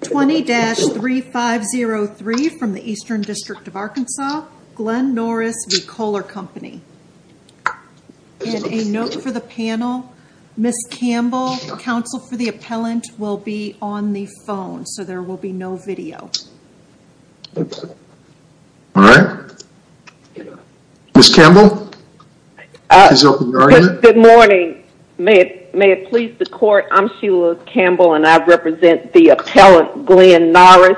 20-3503 from the Eastern District of Arkansas, Glenn Norris v. Kohler Company. And a note for the panel, Ms. Campbell, counsel for the appellant will be on the phone so there will be no video. Alright, Ms. Campbell, please open your argument. Good morning. May it please the court, I'm Sheila Campbell and I represent the appellant, Glenn Norris,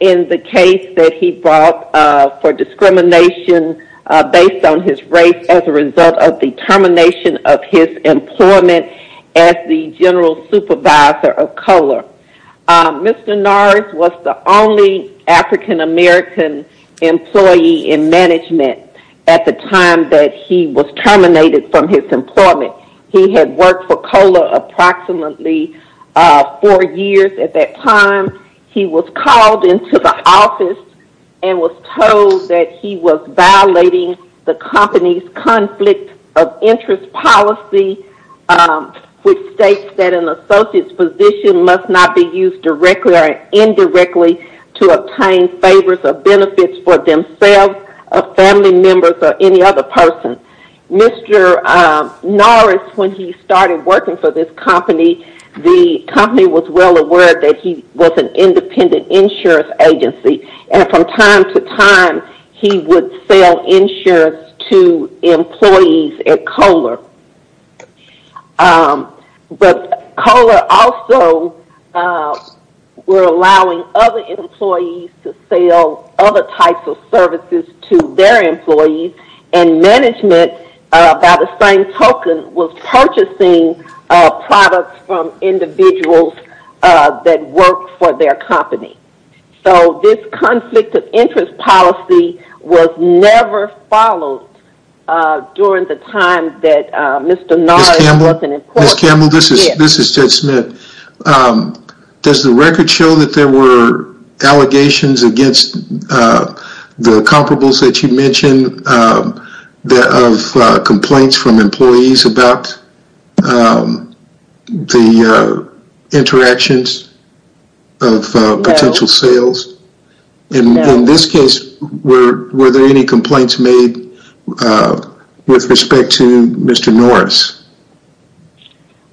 in the case that he brought for discrimination based on his race as a result of the termination of his employment as the General Supervisor of Kohler. Mr. Norris was the only African American employee in management at the time that he was terminated from his employment. He had worked for Kohler approximately four years at that time. He was called into the office and was told that he was violating the company's conflict of interest policy which states that an associate's position must not be used directly or indirectly to obtain favors or benefits for themselves, family members, or any other person. Mr. Norris, when he started working for this company, the company was well aware that he was an independent insurance agency and from time to time he would sell insurance to employees at Kohler. But Kohler also were allowing other employees to sell other types of services to their employees and management, by the same token, was purchasing products from individuals that worked for their company. So this conflict of interest policy was never followed during the time that Mr. Norris was in court. Ms. Campbell, this is Ted Smith. Does the record show that there were allegations against the comparables that you mentioned of complaints from employees about the interactions of potential sales? In this case, were there any complaints made with respect to Mr. Norris?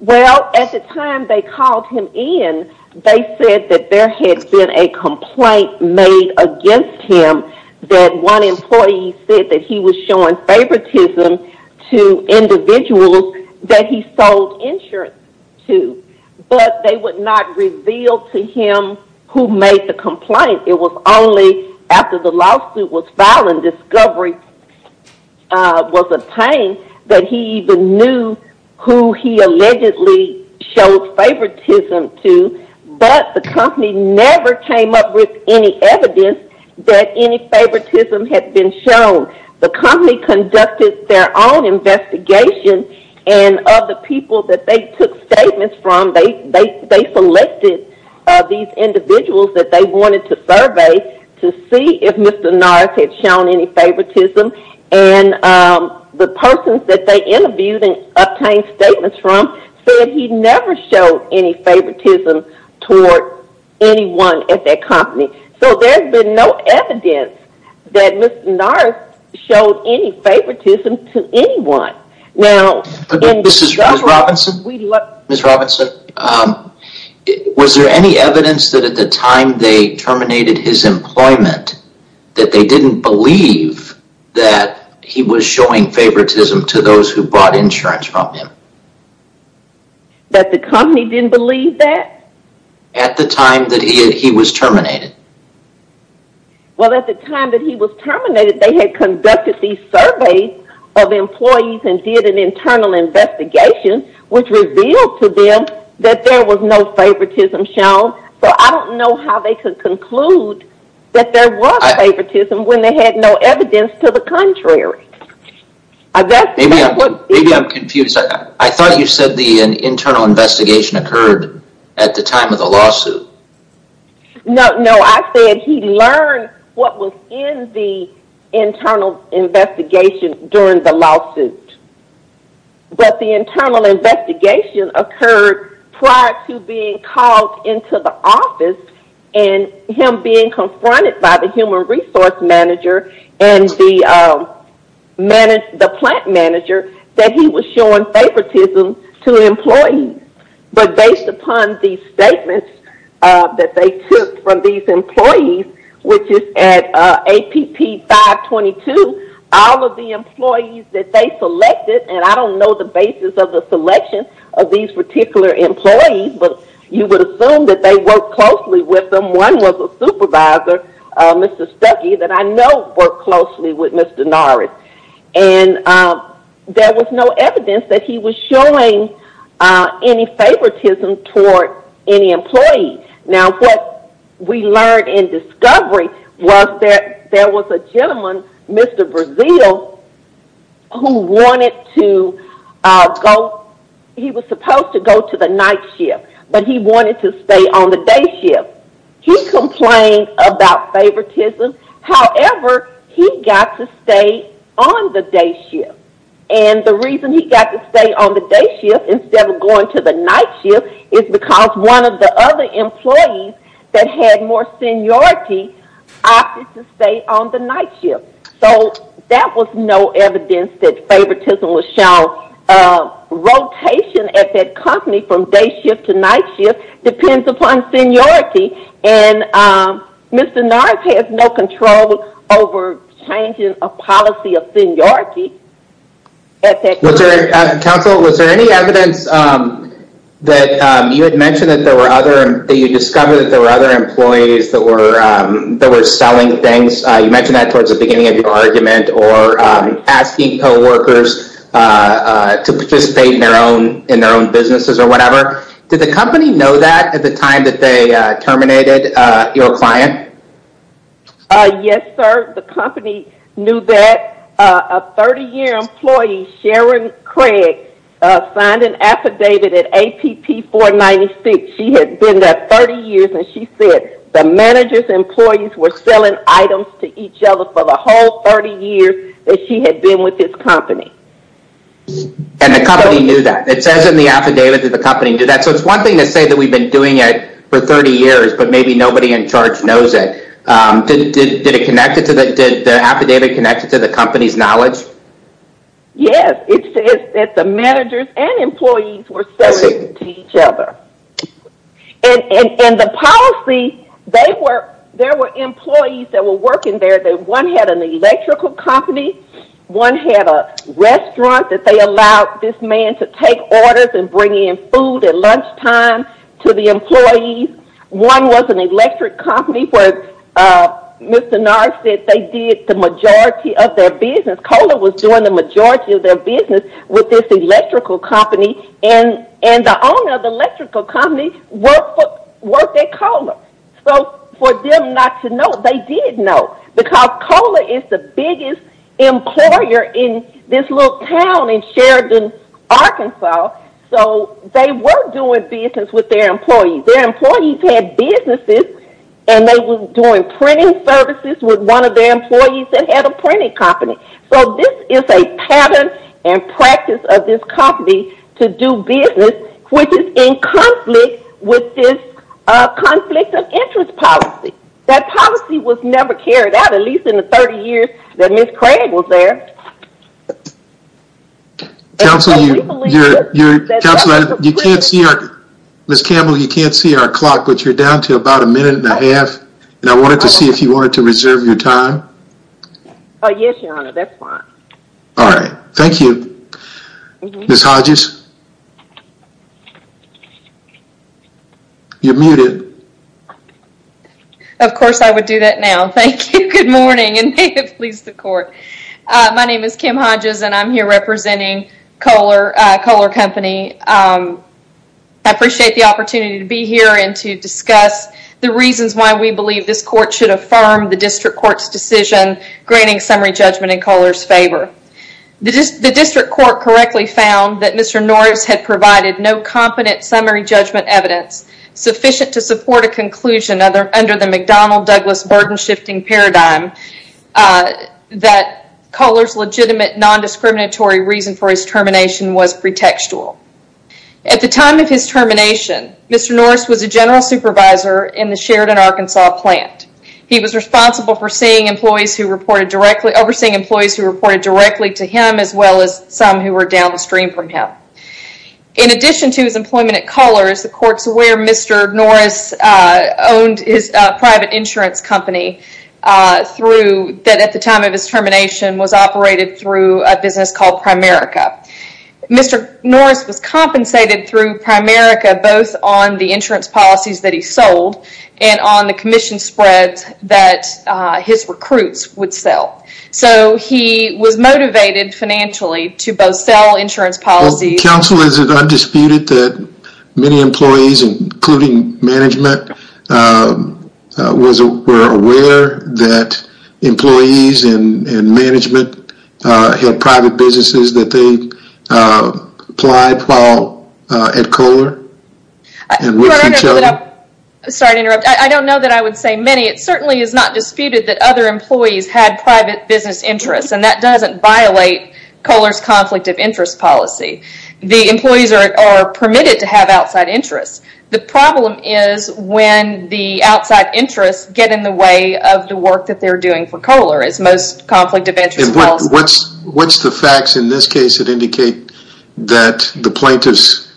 Well, at the time they called him in, they said that there had been a complaint made against him that one employee said that he was showing favoritism to individuals that he sold insurance to. But they would not reveal to him who made the complaint. It was only after the lawsuit was filed and discovery was obtained that he even knew that it was him who he allegedly showed favoritism to, but the company never came up with any evidence that any favoritism had been shown. The company conducted their own investigation and of the people that they took statements from, they selected these individuals that they wanted to survey to see if Mr. Norris had shown any favoritism. And the persons that they interviewed and obtained statements from said he never showed any favoritism toward anyone at that company. So there's been no evidence that Mr. Norris showed any favoritism to anyone. This is Ms. Robinson. Ms. Robinson, was there any evidence that at the time they terminated his employment that they didn't believe that he was showing favoritism to those who bought insurance from him? That the company didn't believe that? At the time that he was terminated. Well at the time that he was terminated they had conducted these surveys of employees and did an internal investigation which revealed to them that there was no favoritism shown. So I don't know how they could conclude that there was favoritism when they had no evidence to the contrary. Maybe I'm confused. I thought you said the internal investigation occurred at the time of the lawsuit. No, I said he learned what was in the internal investigation during the lawsuit. But the internal investigation occurred prior to being called into the office and him being confronted by the human resource manager and the plant manager that he was showing favoritism to employees. But based upon these statements that they took from these employees, which is at APP 522, all of the employees that they selected, and I don't know the basis of the selection of these particular employees, but you would assume that they worked closely with them. One was a supervisor, Mr. Stuckey, that I know worked closely with Mr. Norris. And there was no evidence that he was showing any favoritism toward any employee. Now what we learned in discovery was that there was a gentleman, Mr. Brazil, who wanted to go, he was supposed to go to the night shift, but he wanted to stay on the day shift. He complained about favoritism, however, he got to stay on the day shift. And the reason he got to stay on the day shift instead of going to the night shift is because one of the other employees that had more seniority opted to stay on the night shift. So that was no evidence that favoritism was shown. Rotation at that company from day shift to night shift depends upon seniority. And Mr. Norris has no control over changing a policy of seniority at that company. Counsel, was there any evidence that you had mentioned that there were other, that you discovered that there were other employees that were selling things, you mentioned that towards the beginning of your argument, or asking co-workers to participate in their own businesses or whatever. Did the company know that at the time that they terminated your client? Yes, sir. The company knew that. A 30-year employee, Sharon Craig, signed an affidavit at APP 496. She had been there 30 years, and she said the manager's employees were selling items to each other for the whole 30 years that she had been with this company. And the company knew that. It says in the affidavit that the company knew that. So it's one thing to say that we've been doing it for 30 years, but maybe nobody in charge knows it. Did the affidavit connect to the company's knowledge? Yes. It says that the managers and employees were selling to each other. And the policy, there were employees that were working there. One had an electrical company. One had a restaurant that they allowed this man to take orders and bring in food at lunchtime to the employees. One was an electric company where Mr. Nars said they did the majority of their business. Kola was doing the majority of their business with this electrical company. And the owner of the electrical company worked at Kola. So for them not to know, they did know. Because Kola is the biggest employer in this little town in Sheridan, Arkansas. So they were doing business with their employees. Their employees had businesses and they were doing printing services with one of their employees that had a printing company. So this is a pattern and practice of this company to do business which is in conflict with this conflict of interest policy. That policy was never carried out, at least in the 30 years that Ms. Craig was there. Counsel, you can't see our, Ms. Campbell, you can't see our clock, but you're down to about a minute and a half. And I wanted to see if you wanted to reserve your time. Oh, yes, Your Honor. That's fine. All right. Thank you. Ms. Hodges, you're muted. Of course, I would do that now. Thank you. Good morning and may it please the court. My name is Kim Hodges and I'm here representing Kola Company. I appreciate the opportunity to be here and to discuss the reasons why we believe this court should affirm the district court's decision granting summary judgment in Kola's favor. The district court correctly found that Mr. Norris had provided no competent summary judgment evidence sufficient to support a conclusion under the McDonnell-Douglas burden shifting paradigm that Kola's legitimate non-discriminatory reason for his termination was pretextual. At the time of his termination, Mr. Norris was a general supervisor in the Sheridan, Arkansas plant. He was responsible for overseeing employees who reported directly to him as well as some who were downstream from him. In addition to his employment at Kola, as the court's aware, Mr. Norris owned his private insurance company that at the time of his termination was operated through a business called Primerica. Mr. Norris was compensated through Primerica both on the insurance policies that he sold and on the commission spreads that his recruits would sell. He was motivated financially to both sell insurance policies... We're aware that employees in management had private businesses that they applied for at Kola? Sorry to interrupt. I don't know that I would say many. It certainly is not disputed that other employees had private business interests. That doesn't violate Kola's conflict of interest policy. The employees are permitted to have outside interests. The problem is when the outside interests get in the way of the work that they're doing for Kola. It's most conflict of interest policy. What's the facts in this case that indicate that the plaintiff's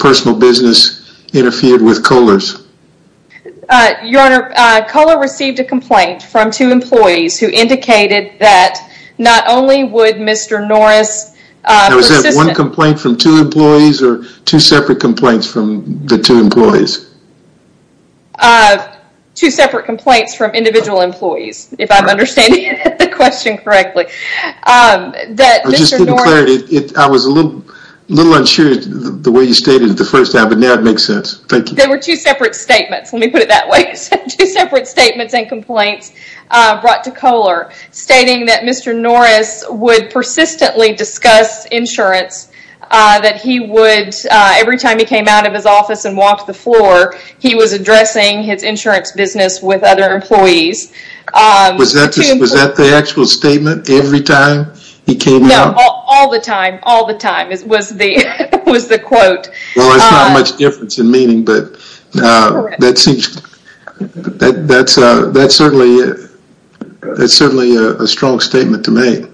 personal business interfered with Kola's? Your Honor, Kola received a complaint from two employees who indicated that not only would Mr. Norris... One complaint from two employees or two separate complaints from the two employees? Two separate complaints from individual employees, if I'm understanding the question correctly. I was a little unsure the way you stated it the first time, but now it makes sense. Thank you. They were two separate statements. Let me put it that way. Two separate statements and complaints brought to Kola stating that Mr. Norris would persistently discuss insurance, that every time he came out of his office and walked the floor, he was addressing his insurance business with other employees. Was that the actual statement every time he came out? No, all the time, all the time was the quote. Well, it's not much difference in meaning, but that's certainly a strong statement to make.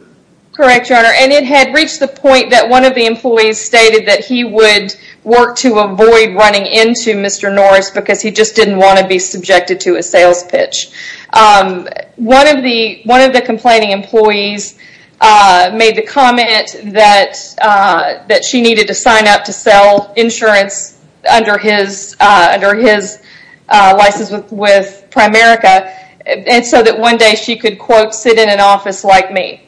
Correct, Your Honor. It had reached the point that one of the employees stated that he would work to avoid running into Mr. Norris because he just didn't want to be subjected to a sales pitch. One of the complaining employees made the comment that she needed to sign up to sell insurance under his license with Primerica so that one day she could, quote, sit in an office with me.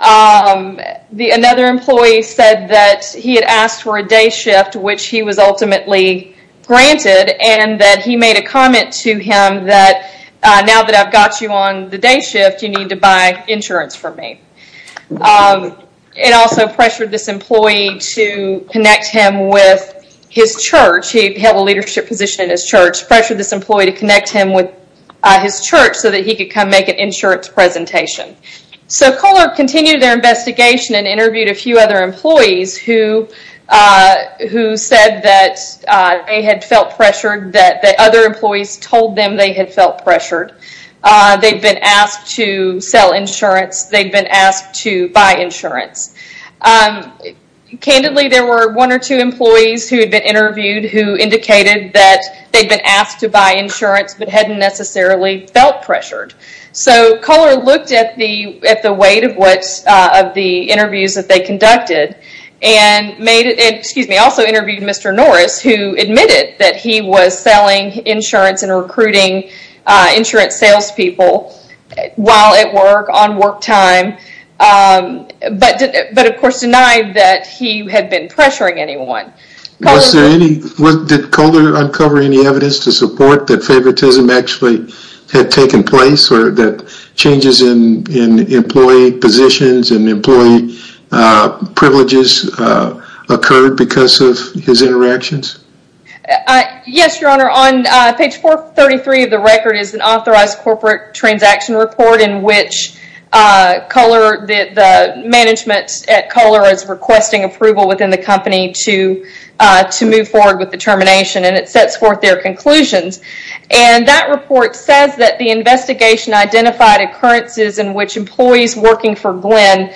Another employee said that he had asked for a day shift, which he was ultimately granted, and that he made a comment to him that, now that I've got you on the day shift, you need to buy insurance from me. It also pressured this employee to connect him with his church. He held a leadership position in his church, pressured this employee to connect him with his church so that he could come make an insurance presentation. Kohler continued their investigation and interviewed a few other employees who said that they had felt pressured, that other employees told them they had felt pressured. They'd been asked to sell insurance. They'd been asked to buy insurance. Candidly, there were one or two employees who had been interviewed who indicated that they'd been asked to buy insurance but hadn't necessarily felt pressured. Kohler looked at the weight of the interviews that they conducted and also interviewed Mr. Norris, who admitted that he was selling insurance and recruiting insurance salespeople while at work, on work time, but of course denied that he had been pressuring anyone. Did Kohler uncover any evidence to support that favoritism actually had taken place or that changes in employee positions and employee privileges occurred because of his interactions? Yes, Your Honor. On page 433 of the record is an authorized corporate transaction report in which the management at Kohler is requesting approval within the company to move forward with the termination and it sets forth their conclusions. That report says that the investigation identified occurrences in which employees working for Glenn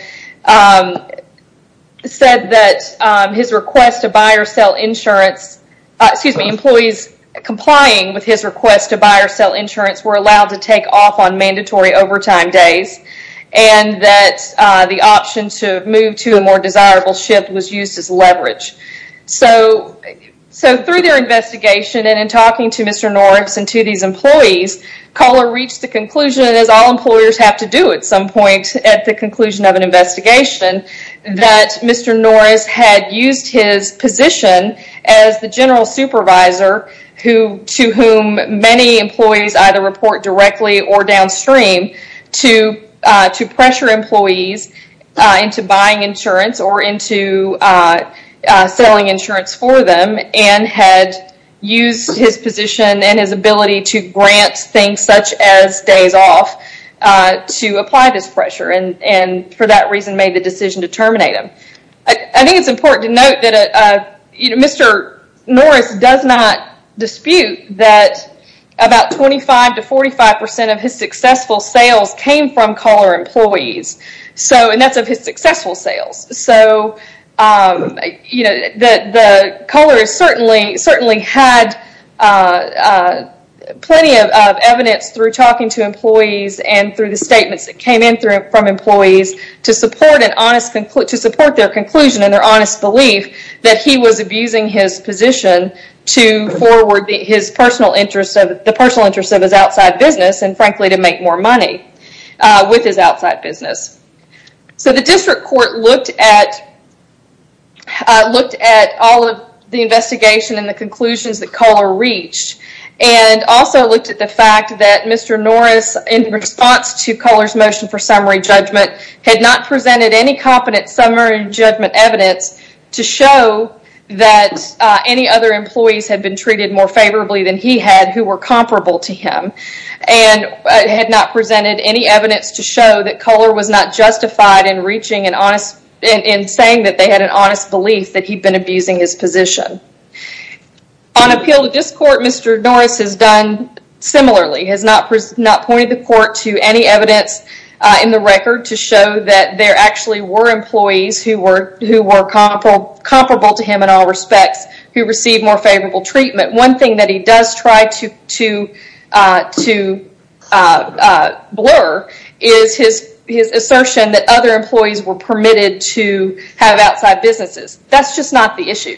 said that his request to buy or sell insurance, excuse me, employees complying with his request to buy or sell insurance were allowed to take off on mandatory overtime days and that the option to move to a more desirable shift was used as leverage. Through their investigation and in talking to Mr. Norris and to these employees, Kohler reached the conclusion, as all employers have to do at some point at the conclusion of an investigation, that Mr. Norris had used his position as the general supervisor to whom many employees either report directly or downstream to pressure employees into buying insurance or into selling insurance for them and had used his position and his ability to grant things such as days off to apply this pressure and for that reason made the decision to terminate him. I think it's important to note that Mr. Norris does not dispute that about 25 to 45% of his successful sales came from Kohler employees and that's of his successful sales. Kohler certainly had plenty of evidence through talking to employees and through the statements that came in from employees to support their conclusion and their honest belief that he was abusing his position to forward the personal interest of his outside business and frankly to make more money with his outside business. The district court looked at all of the investigation and the conclusions that Kohler reached and also looked at the fact that Mr. Norris in response to Kohler's motion for summary judgment had not presented any competent summary judgment evidence to show that any other employees had been treated more favorably than he had who were comparable to him and had not presented any evidence to show that Kohler was not justified in saying that they had an honest belief that he'd been abusing his position. On appeal to this court, Mr. Norris has done similarly. He has not pointed the court to any evidence in the record to show that there actually were employees who were comparable to him in all respects who received more favorable treatment. One thing that he does try to blur is his assertion that other employees were permitted to have outside businesses. That's just not the issue.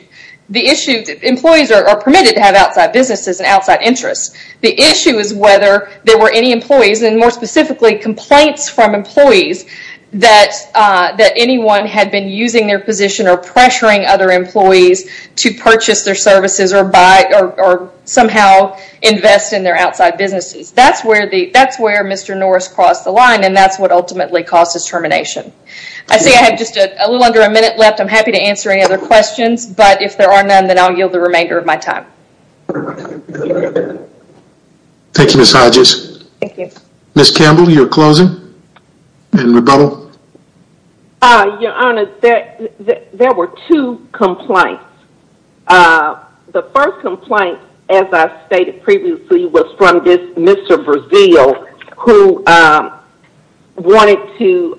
Employees are permitted to have outside businesses and outside interests. The issue is whether there were any employees and more specifically complaints from employees that anyone had been using their position or pressuring other employees to purchase their services or somehow invest in their outside businesses. That's where Mr. Norris crossed the line and that's what ultimately caused his termination. I see I have just a little under a minute left. I'm happy to answer any other questions, but if there are none, then I'll yield the remainder of my time. Thank you, Ms. Hodges. Thank you. Ms. Campbell, you're closing in rebuttal. Your Honor, there were two complaints. The first complaint, as I stated previously, was from this Mr. Brazil who wanted to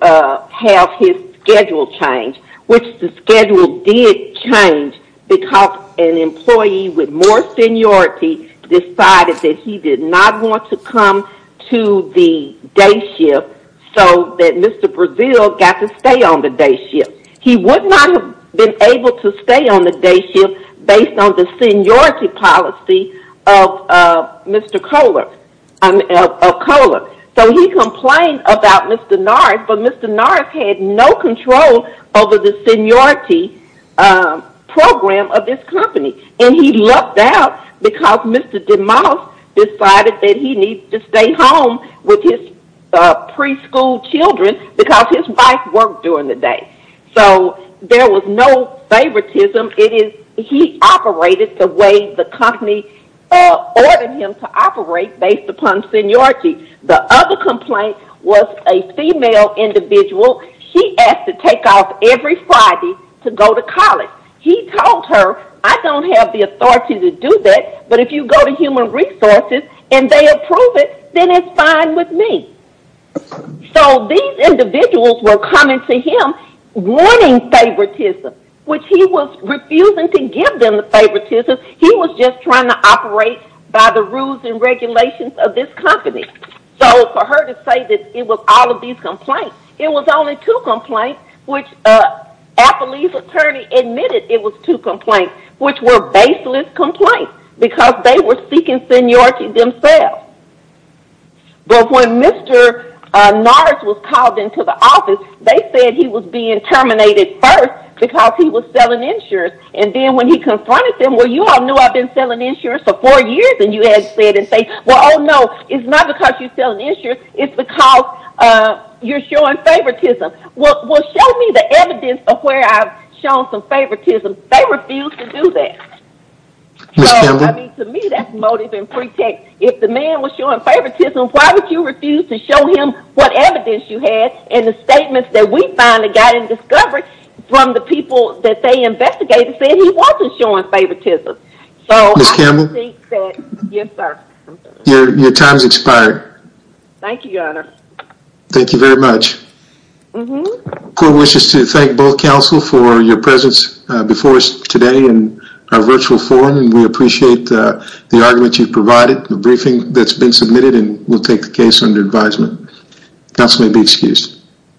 have his schedule changed, which the schedule did change because an employee with more seniority decided that he did not want to come to the day shift so that Mr. Brazil got to stay on the day shift. He would not have been able to stay on the day shift based on the seniority policy of Mr. Kohler. He complained about Mr. Norris, but Mr. Norris had no control over the seniority program of this company. He lucked out because Mr. DeMoss decided that he needed to stay home with his preschool children because his wife worked during the day. There was no favoritism. He operated the way the company ordered him to operate based upon seniority. The other complaint was a female individual. She asked to take off every Friday to go to college. He told her, I don't have the authority to do that, but if you go to Human Resources and they approve it, then it's fine with me. These individuals were coming to him wanting favoritism, which he was refusing to give them the favoritism. He was just trying to operate by the rules and regulations of this company. For her to say that it was all of these complaints, it was only two complaints, which Applebee's attorney admitted it was two complaints, which were baseless complaints because they were seeking seniority themselves. When Mr. Nars was called into the office, they said he was being terminated first because he was selling insurance. Then when he confronted them, you all knew I've been selling insurance for four years and you had said, oh no, it's not because you're selling insurance, it's because you're showing favoritism. Show me the evidence of where I've shown some favoritism. They refused to do that. To me, that's motive and pretext. If the man was showing favoritism, why would you refuse to show him what evidence you had and the statements that we finally got in discovery from the people that they investigated said he wasn't showing favoritism. Your time has expired. Thank you, your honor. Thank you very much. The court wishes to thank both counsel for your presence before us today in our virtual forum. We appreciate the argument you provided, the briefing that's been submitted and we'll take the case under advisement. Counsel may be excused.